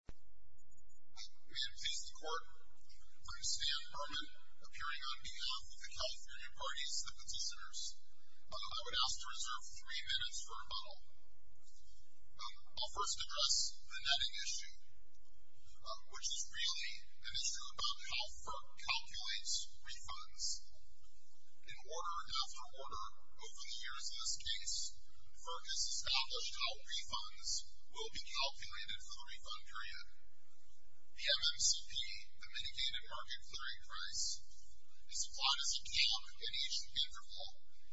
We have changed the court. I'm Stan Berman, appearing on behalf of the California parties, the petitioners. I would ask to reserve three minutes for rebuttal. I'll first address the netting issue, which is really an issue about how FERC calculates refunds. In order and after order, over the years in this case, FERC has established how refunds will be calculated for the refund period. PMMCP, the mitigated market clearing price, is applied as a calc in each interval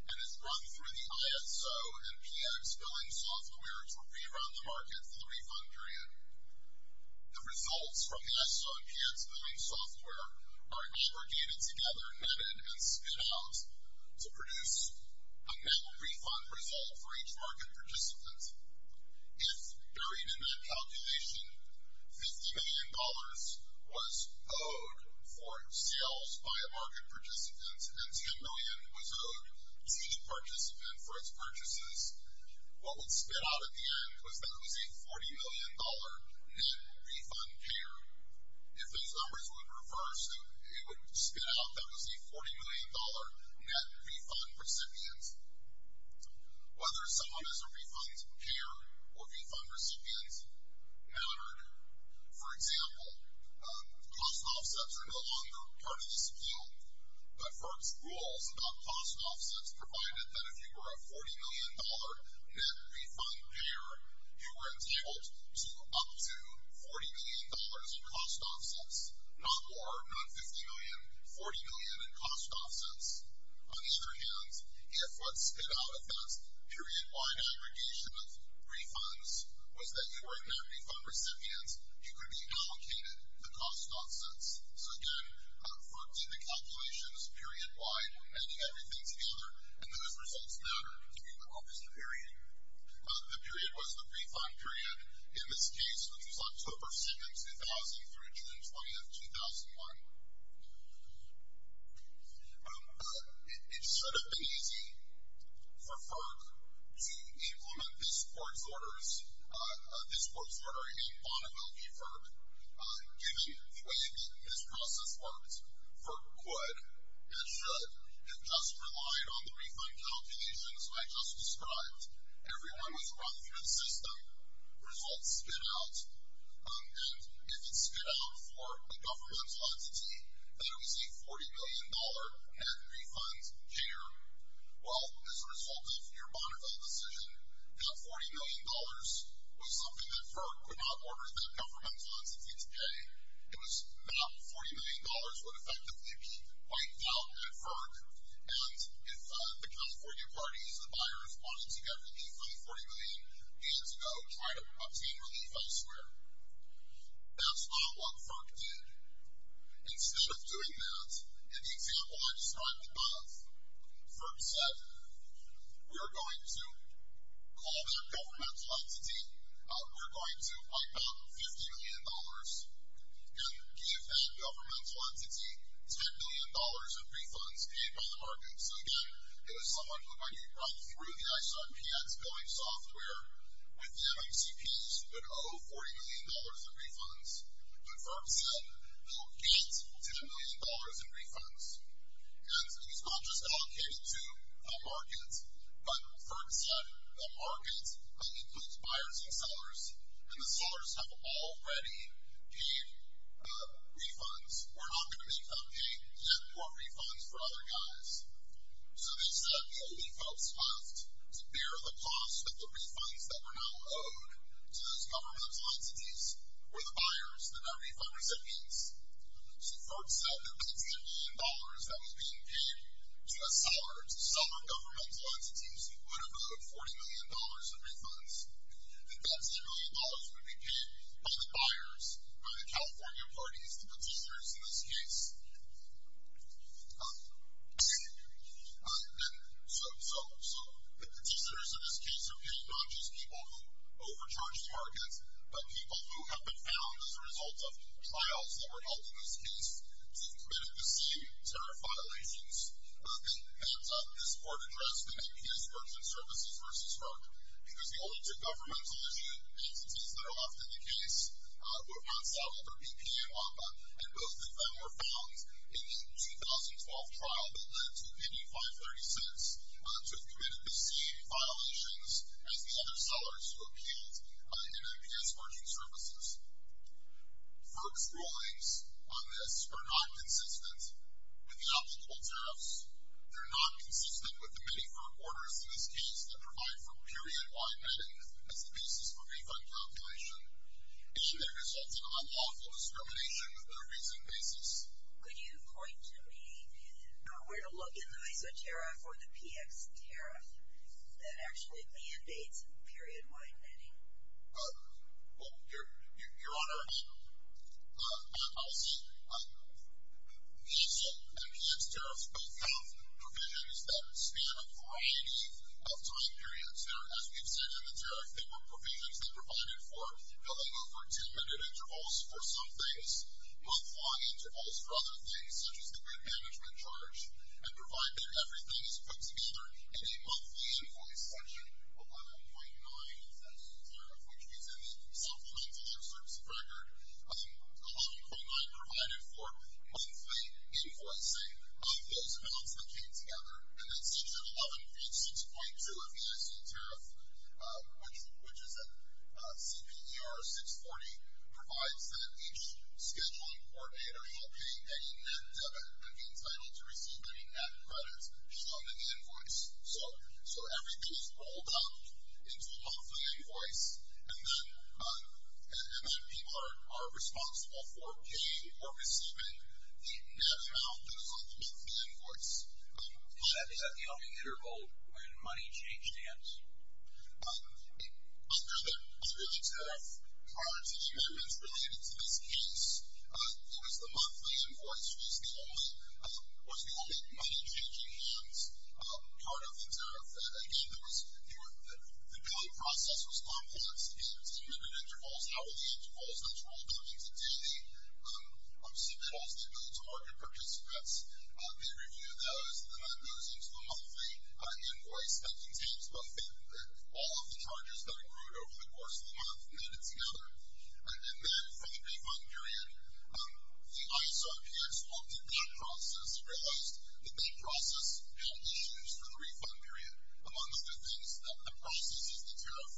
and is run through the ISO and PX billing software to rerun the market for the refund period. The results from the ISO and PX billing software are aggregated together, netted, and spit out to produce a net refund result for each market participant. If, buried in that calculation, $50 million was owed for sales by a market participant and $10 million was owed to each participant for its purchases, what would spit out at the end was that it was a $40 million net refund care. If those numbers were reversed, it would spit out that it was a $40 million net refund recipient. Whether someone is a refund care or refund recipient mattered. For example, cost offsets are no longer part of this appeal. FERC's rules about cost offsets provided that if you were a $40 million net refund payer, you were entitled to up to $40 million in cost offsets. Not more, not $50 million, $40 million in cost offsets. On the other hand, if what spit out at that period-wide aggregation of refunds was that you were a net refund recipient, you could be allocated the cost offsets. So again, FERC did the calculations period-wide, adding everything together, and those results mattered. Can you recall this period? The period was the refund period in this case, which was October 7, 2003, June 20, 2001. It should have been easy for FERC to implement this court's order in Bonneville v. FERC, given the way that this process worked. FERC could and should have just relied on the refund calculations I just described. Everyone was brought through the system. Results spit out. And if it spit out for the governmental entity that it was a $40 million net refund payer, well, as a result of your Bonneville decision, that $40 million was something that FERC could not order that governmental entity to pay. It was not $40 million would effectively be wiped out by FERC. And if the California parties, the buyers, wanted to get the refund $40 million, they had to go try to obtain relief elsewhere. That's not what FERC did. Instead of doing that, in the example I described above, FERC said, we're going to call that governmental entity, we're going to wipe out $50 million and give that governmental entity $10 million of refunds paid by the market. So, again, it was someone who might have run through the ISARPX billing software with the MFCPs, but owe $40 million of refunds. But FERC said, you'll get $10 million in refunds. And these were all just allocated to the market, but FERC said, the market, that includes buyers and sellers, and the sellers have already paid the refunds. We're not going to make them pay net more refunds for other guys. So they said, the only folks left to bear the cost of the refunds that were now owed to those governmental entities were the buyers, the net refund recipients. So FERC said the $10 million that was being paid to the sellers, the seller governmental entities, would have owed $40 million of refunds. And that $10 million would be paid by the buyers, by the California parties, the petitioners in this case. And so the petitioners in this case are paying not just people who overcharged markets, but people who have been found as a result of trials that were held in this case to have committed the same terror violations that have been found on this court address, the NPS Works and Services v. FERC. Because the only two governmental entities that are left in the case were Arkansas, Weber, EPA, and WACA. And both of them were found in the 2012 trial that led to $85.30 to have committed the same violations as the other sellers who were paid by the NPS Works and Services. FERC's rulings on this are not consistent with the obstacle tariffs. They're not consistent with the many firm orders in this case that provide for period-wide netting as the basis for refund calculation. It should have resulted in unlawful discrimination on a reasonable basis. Could you point to me where to look in the MESA tariff or the PX tariff that actually mandates period-wide netting? Well, Your Honor, I'll say MESA and PX tariffs both have provisions that span a variety of time periods. As we've said in the tariff, they were provisions that provided for no longer than 10-minute intervals for some things, month-long intervals for other things, such as the grid management charge, and provide that everything is put together in a monthly invoice section, 11.9 of the MESA tariff, which means that the supplemental insurance record, 11.9 provided for monthly invoicing, those amounts that came together, and then section 11, page 6.2 of the MESA tariff, which is a CPER 640, provides that each scheduling coordinator shall pay any net debit and be entitled to receive any net credit on the invoice. So everything is rolled up into a monthly invoice, and then people are responsible for paying or receiving the net amount that is on the monthly invoice. Is that the only interval when money changed hands? Your Honor, prior to the amendments related to this case, it was the monthly invoice, which was the only money-changing hands part of the tariff. Again, the billing process was complex. In 10-minute intervals, hourly intervals, those were all coming to date. Submittals, debits, and mortgage purchase scripts, they reviewed those, and then that goes into the monthly invoice that contains all of the charges that accrued over the course of the month added together. And then from the pay fund period, the ISRPX looked at that process and realized that that process had to change for the refund period. Among other things, the process is the tariff.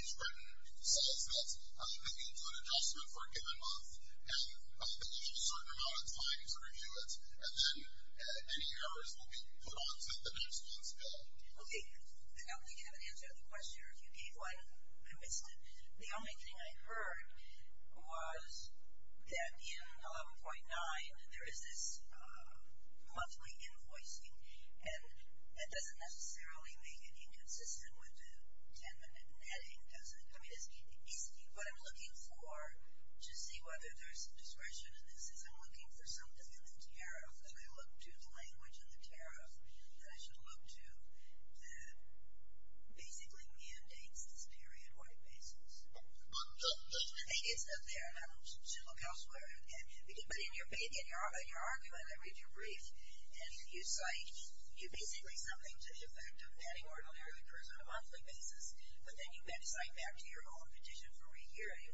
These written sales notes, they get to an adjustment for a given month, and they have a certain amount of time to review it, and then any errors will be put on to the next month's bill. Okay. I don't think you have an answer to the question, or if you gave one, I missed it. The only thing I heard was that in 11.9, there is this monthly invoicing, and that doesn't necessarily make it inconsistent with the 10-minute netting, does it? I mean, what I'm looking for to see whether there's discretion in this is I'm looking for something in the tariff that I look to, the language in the tariff that I should look to, that basically mandates this period-wide basis. I think it's up there, and I should look elsewhere. But in your argument, I read your brief, and you cite you basically something to the effect of netting order that occurs on a monthly basis, but then you then cite back to your own petition for re-hearing,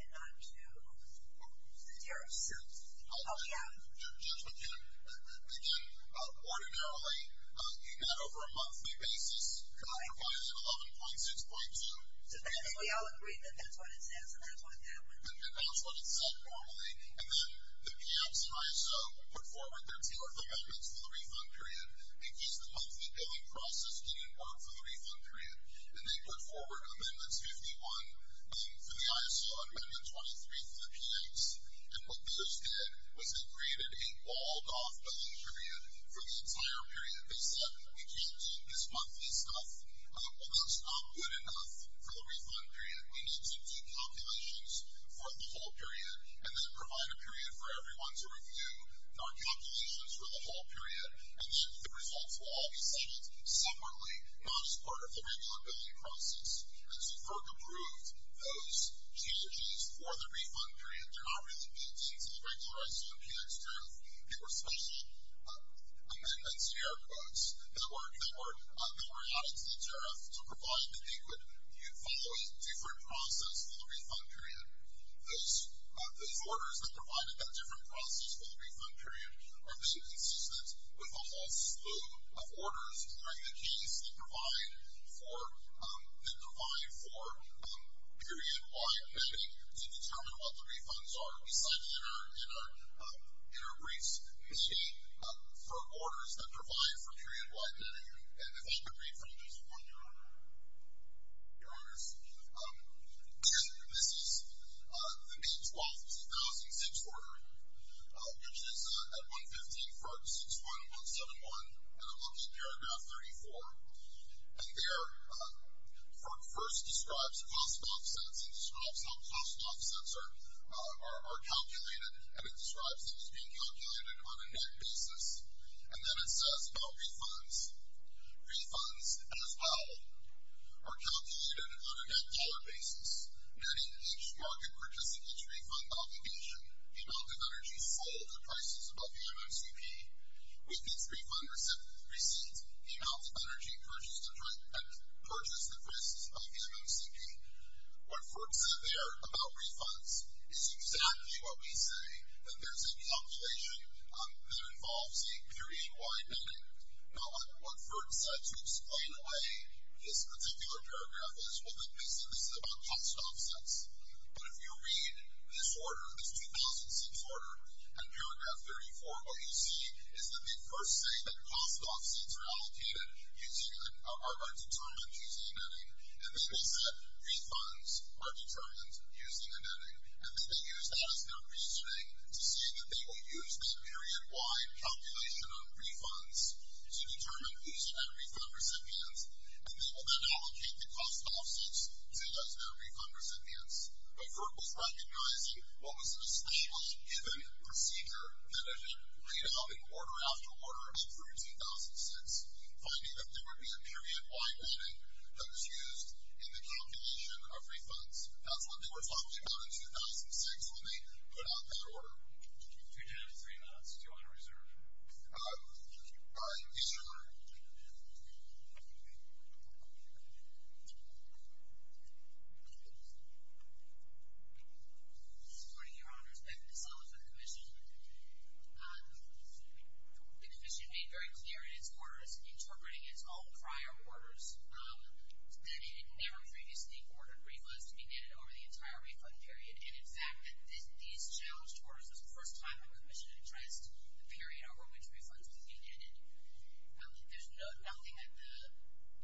and not to the tariff suit. Oh, yeah. Judge McKinnon, ordinarily, you got over a monthly basis, and that applies to 11.6.2. I think we all agree that that's what it says, and that's what that would mean. But that's what it said normally. And then the camps in ISO put forward their two amendments for the refund period. They gave the monthly billing process didn't work for the refund period, and they put forward amendments 51 for the ISO and amendment 23 for the camps. And what those did was they created a walled-off billing period for the entire period. They said we can't do this monthly stuff. That's not good enough for the refund period. We need to do calculations for the whole period and then provide a period for everyone to review their calculations for the whole period, and then the results will all be sent separately, most part of the regular billing process. And so FERC approved those changes for the refund period. They're not really built into the regular ISO and PX tariff. They were special amendments, air quotes, that were added to the tariff to provide that they would follow a different process for the refund period. Those orders that provided that different process for the refund period are basically consistent with a whole slew of orders during the case that provide for period-wide billing to determine what the refunds are, besides in a brief state, for orders that provide for period-wide billing. And if I could read from just one of your orders. Your orders. This is the May 12, 2006 order, which is at 115 FERC 6.171, and it looks at paragraph 34. And there FERC first describes cost offsets and describes how cost offsets are calculated, and it describes them as being calculated on a net basis, and then it says about refunds. Refunds, as well, are calculated on a net dollar basis, meaning each market participant's refund obligation, the amount of energy sold at prices above the MMCP, with its refund receipts, the amount of energy purchased at prices above the MMCP. What FERC said there about refunds is exactly what we say, that there's a calculation that involves a period-wide netting. Now, what FERC said to explain away this particular paragraph is, well, that basically this is about cost offsets. But if you read this order, this 2006 order, at paragraph 34, what you see is that they first say that cost offsets are allocated using, are determined using netting. And then they said refunds are determined using a netting. And then they use that as their reasoning to say that they will use that period-wide calculation on refunds to determine who's the net refund recipient, and they will then allocate the cost offsets to those net refund recipients. But FERC was recognizing what was an especially given procedure that had been laid out in order after order through 2006, finding that there would be a period-wide netting that was used in the calculation of refunds. That's what they were talking about in 2006. Let me put out that order. You do have three minutes. Do you want to reserve? All right. Yes, Your Honor. Good morning, Your Honor. It's Bethan DeSalva for the commission. The commission made very clear in its orders, interpreting as all prior orders, that it had never previously ordered refunds to be netted over the entire refund period. And, in fact, these challenged orders was the first time the commission addressed the period over which refunds would be netted. There's nothing that the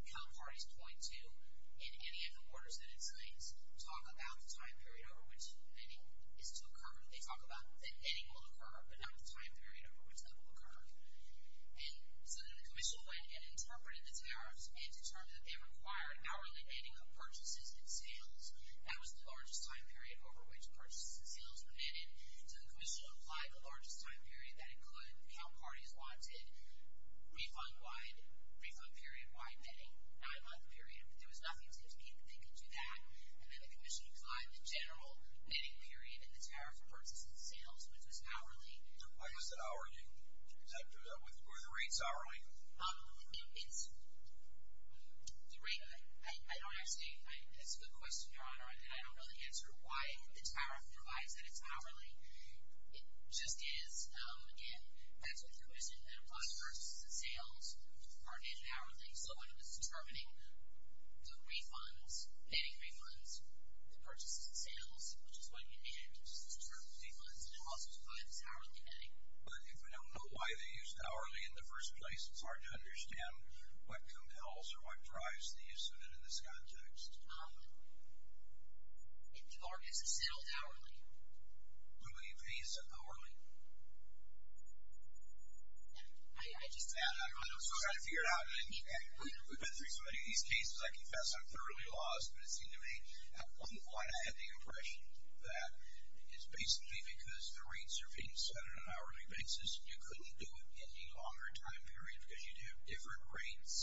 counterparties point to in any of the orders that it cites. Talk about the time period over which netting is to occur. They talk about that netting will occur, but not the time period over which that will occur. And so then the commission went and interpreted the tariffs and determined that they required hourly netting of purchases and sales. That was the largest time period over which purchases and sales were netted. So the commission applied the largest time period. That included how parties wanted refund-wide, refund-period-wide netting, nine-month period. There was nothing to indicate that they could do that. And then the commission applied the general netting period and the tariff of purchases and sales, which was hourly. Why is it hourly? Is that where the rate's hourly? It's the rate. I don't actually – it's a good question, Your Honor, and I don't really answer why the tariff provides that it's hourly. It just is, again, that's what the commission had applied. Purchases and sales are netted hourly. netting refunds to purchases and sales, which is what you need to determine the difference. And it also applies to hourly netting. But if we don't know why they used hourly in the first place, it's hard to understand what compels or what drives the use of it in this context. If people are necessarily hourly. Who do you think said hourly? I just don't know. I don't know. I'm trying to figure it out. We've been through so many of these cases, I confess I'm thoroughly lost, but it seemed to me at one point I had the impression that it's basically because the rates are being set on an hourly basis. You couldn't do it in a longer time period because you'd have different rates.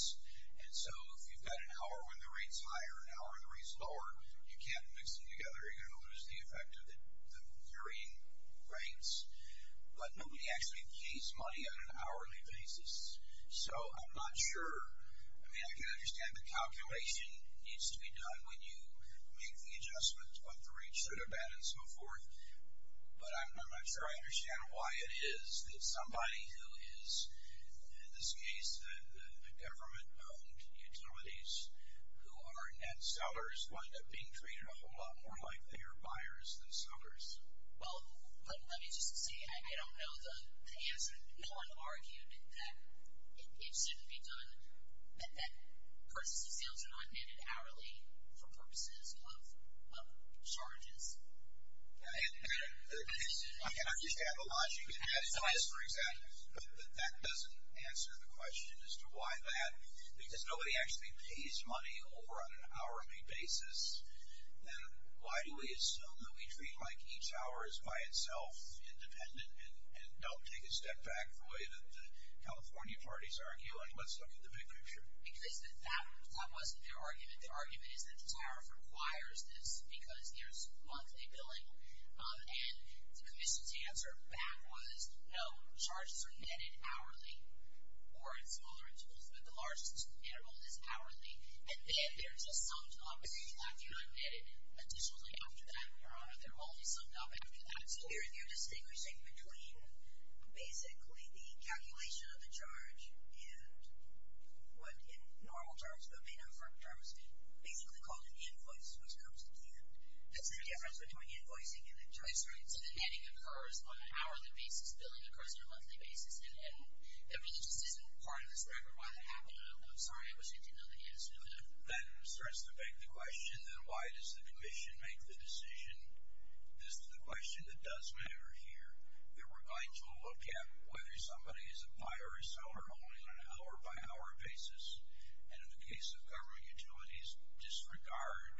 And so if you've got an hour when the rate's higher, an hour when the rate's lower, you can't mix them together. You're going to lose the effect of the varying rates. But nobody actually pays money on an hourly basis. So I'm not sure. I mean, I can understand the calculation needs to be done when you make the adjustments, what the rates should have been and so forth. But I'm not sure I understand why it is that somebody who is, in this case, government-owned utilities who are net sellers wind up being treated a whole lot more like they are buyers than sellers. Well, let me just say, I don't know. No one argued that it shouldn't be done, that purchases and sales are not netted hourly for purposes of charges. I can understand the logic of this, for example, but that doesn't answer the question as to why that. Because nobody actually pays money over on an hourly basis. Then why do we assume that we treat like each hour is by itself independent and don't take a step back the way that the California parties argue? I mean, let's look at the big picture. Because that wasn't their argument. Their argument is that the tariff requires this because there's monthly billing. And the commission's answer back was, no, charges are netted hourly or in smaller intervals, but the largest interval is hourly. And then they're just summed up, and then they're not netted additionally after that, or they're only summed up after that. So you're distinguishing between basically the calculation of the charge and what in normal terms, but may not in firm terms, basically called an invoice, which comes at the end. That's the difference between invoicing and the choice, right? So the netting occurs on an hourly basis. Billing occurs on a monthly basis. And the religious isn't part of this record. Sorry, I was hinting at the answer. If that starts to beg the question, then why does the commission make the decision? This is the question that does matter here. That we're going to look at whether somebody is a buyer or seller only on an hour-by-hour basis. And in the case of government utilities, disregard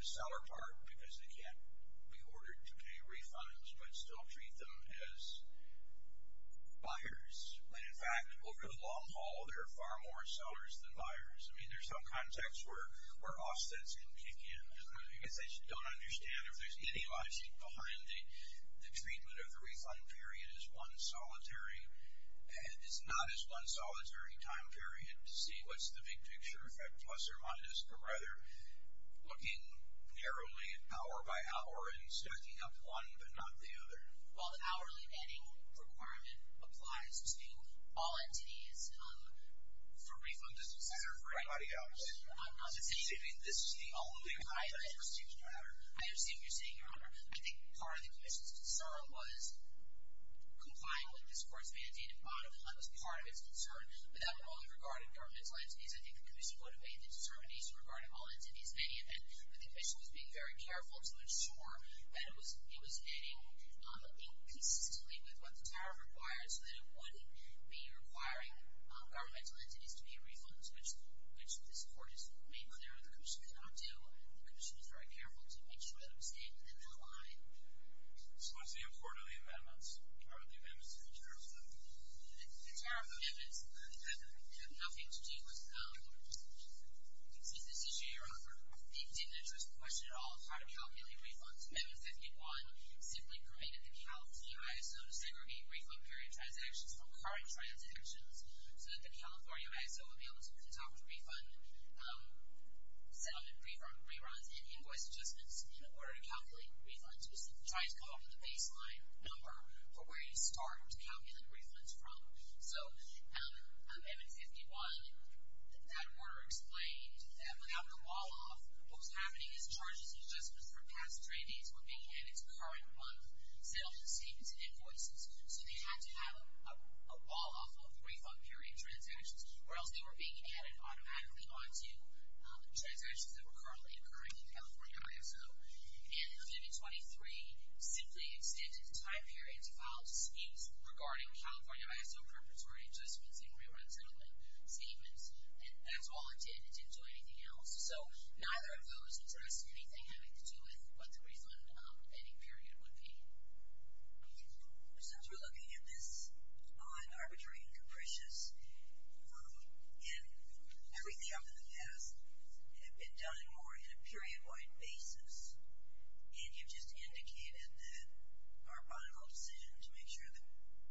the seller part because they can't be ordered to pay refunds, but still treat them as buyers. And, in fact, over the long haul, there are far more sellers than buyers. I mean, there's some context where offsets can kick in. I guess I just don't understand if there's any logic behind the treatment of the refund period as one solitary, as not as one solitary time period to see what's the big picture effect, plus or minus, but rather looking narrowly at hour-by-hour and stacking up one but not the other. Well, the hourly netting requirement applies to all entities for refund businesses. And everybody else. This is the only one that seems to matter. I understand what you're saying, Your Honor. I think part of the commission's concern was complying with this court's mandate and bottom line was part of its concern, but that would only regard governmental entities. I think the commission would have made the determination regarding all entities, many of them, but the commission was being very careful to ensure that it was hitting consistently with what the tariff requires so that it wouldn't be requiring governmental entities to be refunded, which this court has made clear the commission could not do. The commission was very careful to make sure that it was staying within that line. So what's the import of the amendments? What are the amendments to the tariff? The tariff amendments have nothing to do with the decision, Your Honor, I think didn't address the question at all of how to calculate refunds. Amendment 51 simply permitted the California ISO to segregate refund period transactions from current transactions so that the California ISO would be able to conduct a refund settlement, reruns, and invoice adjustments in order to calculate refunds. It was trying to come up with a baseline number for where you start to calculate refunds from. So Amendment 51, that order explained that without the wall-off, what was happening is charges and adjustments for past trainees were being added to current month's settlement statements and invoices. So they had to have a wall-off of refund period transactions or else they were being added automatically onto transactions that were currently occurring in the California ISO. And Amendment 23 simply extended time periods filed to schemes regarding California ISO preparatory adjustments and rerun settlement statements, and that's all it did. It didn't do anything else. So neither of those addressed anything having to do with what the refund ending period would be. Since we're looking at this on arbitrary and capricious, everything up to the past had been done more in a period-wide basis, and you've just indicated that our final decision to make sure that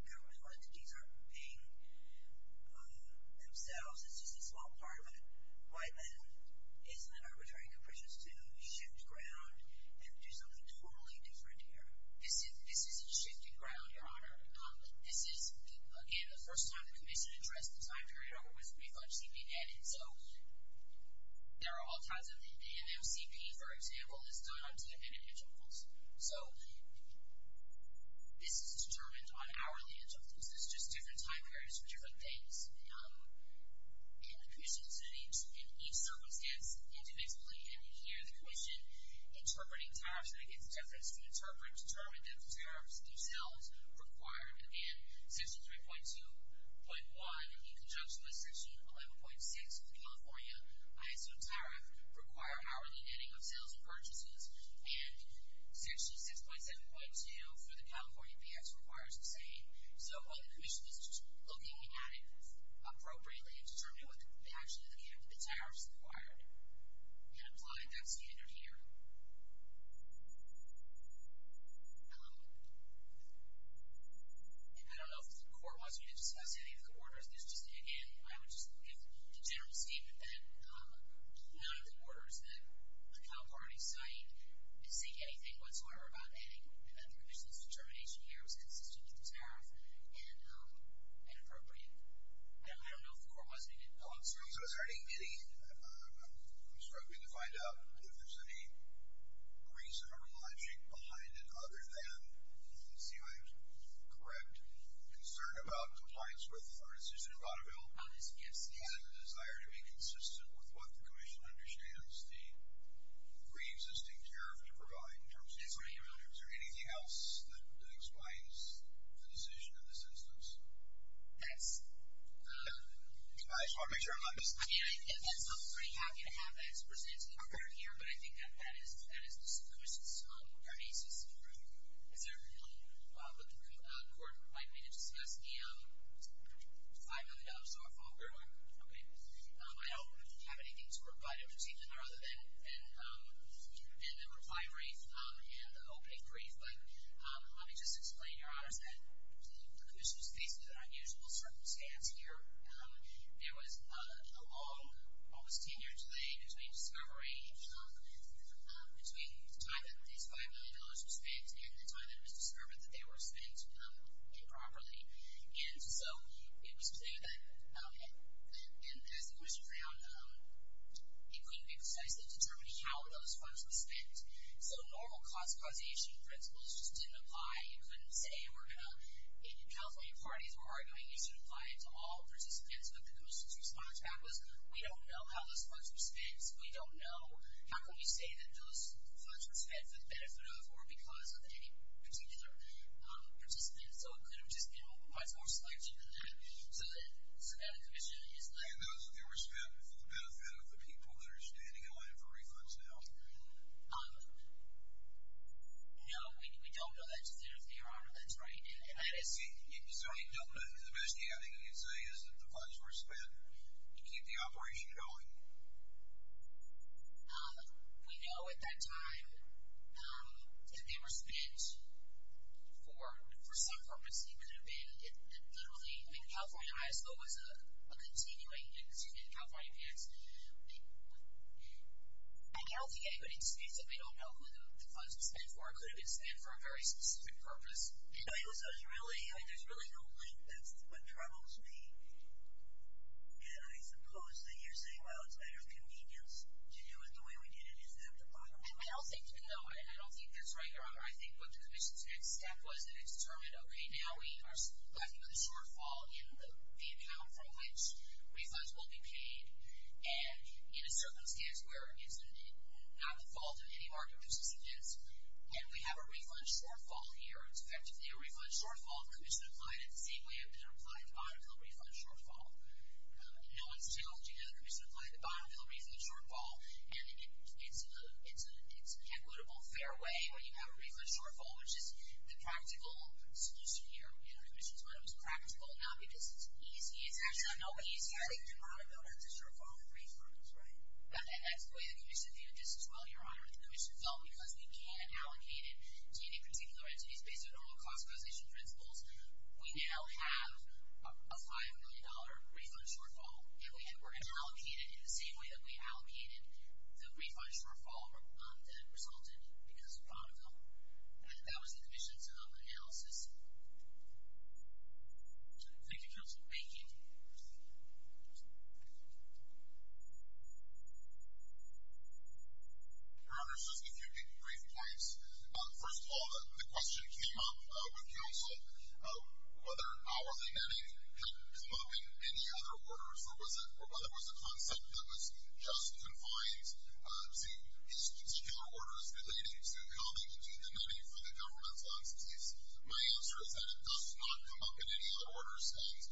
government entities aren't paying themselves is just a small part of it. Why then isn't it arbitrary and capricious to shift ground and do something totally different here? This isn't shifting ground, Your Honor. This is, again, the first time the commission addressed the time period or was refund scheme being added. So there are all kinds of MMCP, for example, that's done on dependent individuals. So this is determined on hourly adjustments. This is just different time periods for different things. And the commission is in each circumstance indivisibly, and you hear the commission interpreting tariffs. And, again, the judge has to interpret and determine that the tariffs themselves require, again, Section 3.2.1 in conjunction with Section 11.6 of the California ISO Tariff require hourly netting of sales and purchases and Section 6.7.2 for the California BX requires the same. So while the commission is just looking at it appropriately and determining what actually the tariffs require and applying that standard here. I don't know if the court wants me to discuss any of the orders. Again, I would just give the general statement that none of the orders that the Cal Party cite seek anything whatsoever about netting, and that the commission's determination here was consistent with the tariff and appropriate. I don't know if the court wants me to go on. I'm sorry. I'm struggling to find out if there's any reason or logic behind it other than, let's see if I'm correct, concern about compliance with our decision in Vaudeville Do you have a desire to be consistent with what the commission understands the pre-existing tariff to provide in terms of tariff? Is there anything else that explains the decision in this instance? That's... I just want to make sure I'm not missing anything. I mean, I'm pretty happy to have that presented here, but I think that is the commission's basis. Is there anyone with the court who would like me to discuss the $5 million dollar phone bill? I don't have anything to provide in particular, other than the reply brief and the opening brief, but let me just explain, Your Honors, that the commission's faced with an unusual circumstance here. There was a long, almost 10-year delay between discovery, between the time that this $5 million was spent and the time that it was discovered that they were spent improperly. And so it was clear that, as the commission found out, it couldn't be precisely determined how those funds were spent. So normal cost causation principles just didn't apply. You couldn't say we're going to... In California, parties were arguing you should apply it to all participants, but the commission's response back was, we don't know how those funds were spent. We don't know. How can we say that those funds were spent for the benefit of or because of any particular participant? So it could have just been much more selective than that, so that the commission is not... And those that they were spent for the benefit of the people that are standing in line for refunds now? No, we don't know that just yet, Your Honor. That's right. So the best you can say is that the funds were spent to keep the operation going? We know at that time if they were spent for some purpose, it could have been literally, I think California High School was a continuing institution in California, but I can't really think of any good instance that we don't know who the funds were spent for. It could have been spent for a very specific purpose. There's really no link. That's what troubles me. And I suppose that you're saying, well, it's better convenience to do it the way we did it. Is that the bottom line? I don't think so, and I don't think that's right, Your Honor. I think what the commission's next step was that it determined, okay, now we are left with a shortfall in the amount from which refunds will be paid, and in a circumstance where it's not the fault of any market person, it is, and we have a refund shortfall here. It's effectively a refund shortfall. The commission applied it the same way it applied the Bonneville refund shortfall. No one's challenging that. The commission applied the Bonneville refund shortfall, and it's an equitable, fair way when you have a refund shortfall, which is the practical solution here. The commission's motto is practical, not because it's easy. It's actually not easy. I think the Bonneville refund shortfall reform is right. That's the way the commission viewed this as well, Your Honor. The commission felt because we can't allocate it to any particular entities based on normal classification principles, we now have a $5 million refund shortfall, and we can allocate it in the same way that we allocated the refund shortfall that resulted because of Bonneville. That was the commission's analysis. Thank you, Counselor. Thank you. Your Honor, just a few brief points. First of all, the question came up with Counsel, whether hourly netting had come up in any other orders, or whether it was a concept that was just confined to these particular orders relating to coming to the money for the government's entities. My answer is that it does not come up in any other orders, and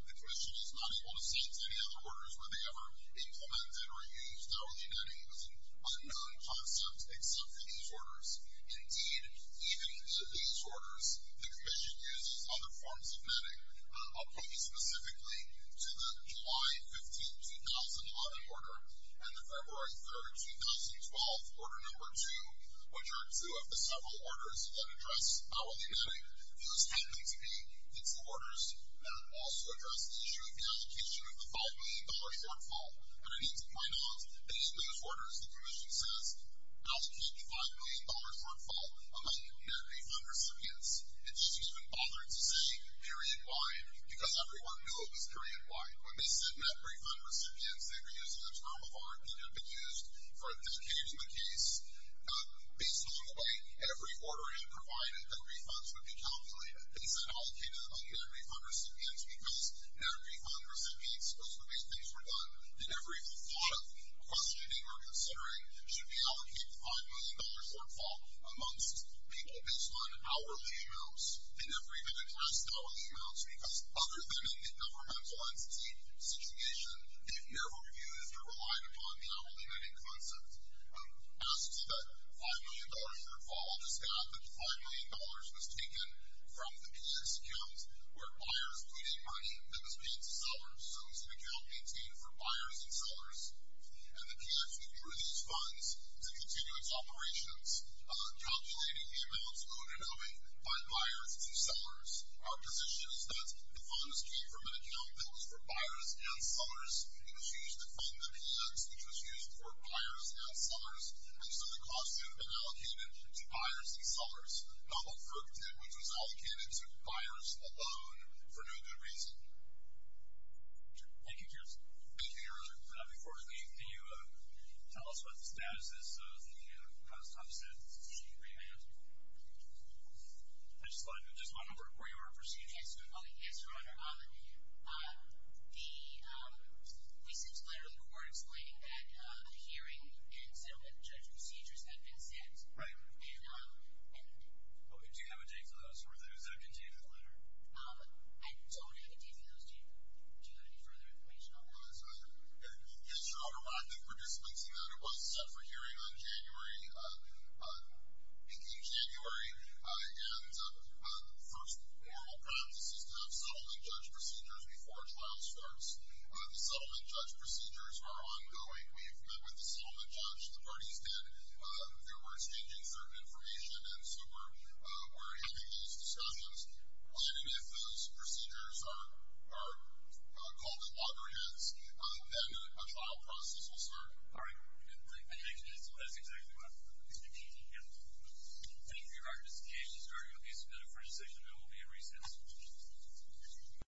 the commission is not able to say to any other orders whether they ever implemented or used hourly netting. It was an unknown concept except for these orders. Indeed, even in these orders, the commission uses other forms of netting. I'll point you specifically to the July 15, 2011 order, and the February 3, 2012 order number two, which are two of the several orders that address hourly netting. These happen to be the two orders that also address the issue of the allocation of the $5 million shortfall. And I need to point out that in those orders, the commission says allocate the $5 million shortfall among net refund recipients. It's just even bothering to say period-wide, because everyone knew it was period-wide. When they said net refund recipients, they were using the term of art that had been used for the occasion of the case. Based on the way every order had provided, the refunds would be calculated. They said allocate it among net refund recipients because net refund recipients was the way things were done. They never even thought of questioning or considering should we allocate the $5 million shortfall amongst people based on hourly amounts. They never even addressed hourly amounts, because other than in the governmental entity situation, they've never used or relied upon the hourly netting concept. As to the $5 million shortfall, I'll just add that the $5 million was taken from the PX account, where buyers put in money that was paid to sellers. So it was an account maintained for buyers and sellers. And the PX withdrew these funds to continue its operations, calculating the amounts owed and owed by buyers and sellers. Our position is that the funds came from an account that was for buyers and sellers. It was used to fund the PX, which was used for buyers and sellers. And so the costs would have been allocated to buyers and sellers. Not what FERC did, which was allocated to buyers alone for no good reason. Thank you, Kirsten. Thank you, Your Honor. Before we leave, can you tell us what the status is of the cost offset agreement? I just want to know where you are in procedures. Yes, Your Honor. The, um, we sent a letter to the court explaining that the hearing and settlement judge procedures had been set. Right. And, um, and... Do you have a date for those? Is that contained in the letter? I don't have a date for those. Do you have any further information on that? Yes, Your Honor. I did participate in that. It was set for hearing in January. And the first moral practice is to have settlement judge procedures before a trial starts. The settlement judge procedures are ongoing. We've met with the settlement judge. The parties did. They were exchanging certain information, and so we're having these discussions. And if those procedures are called in loggerheads, then a trial process will start. All right. Thank you. That's exactly what I was going to say. Thank you. Thank you. Thank you for your recognition, sir. You'll be submitted for re-session. It will be a re-session. Thank you.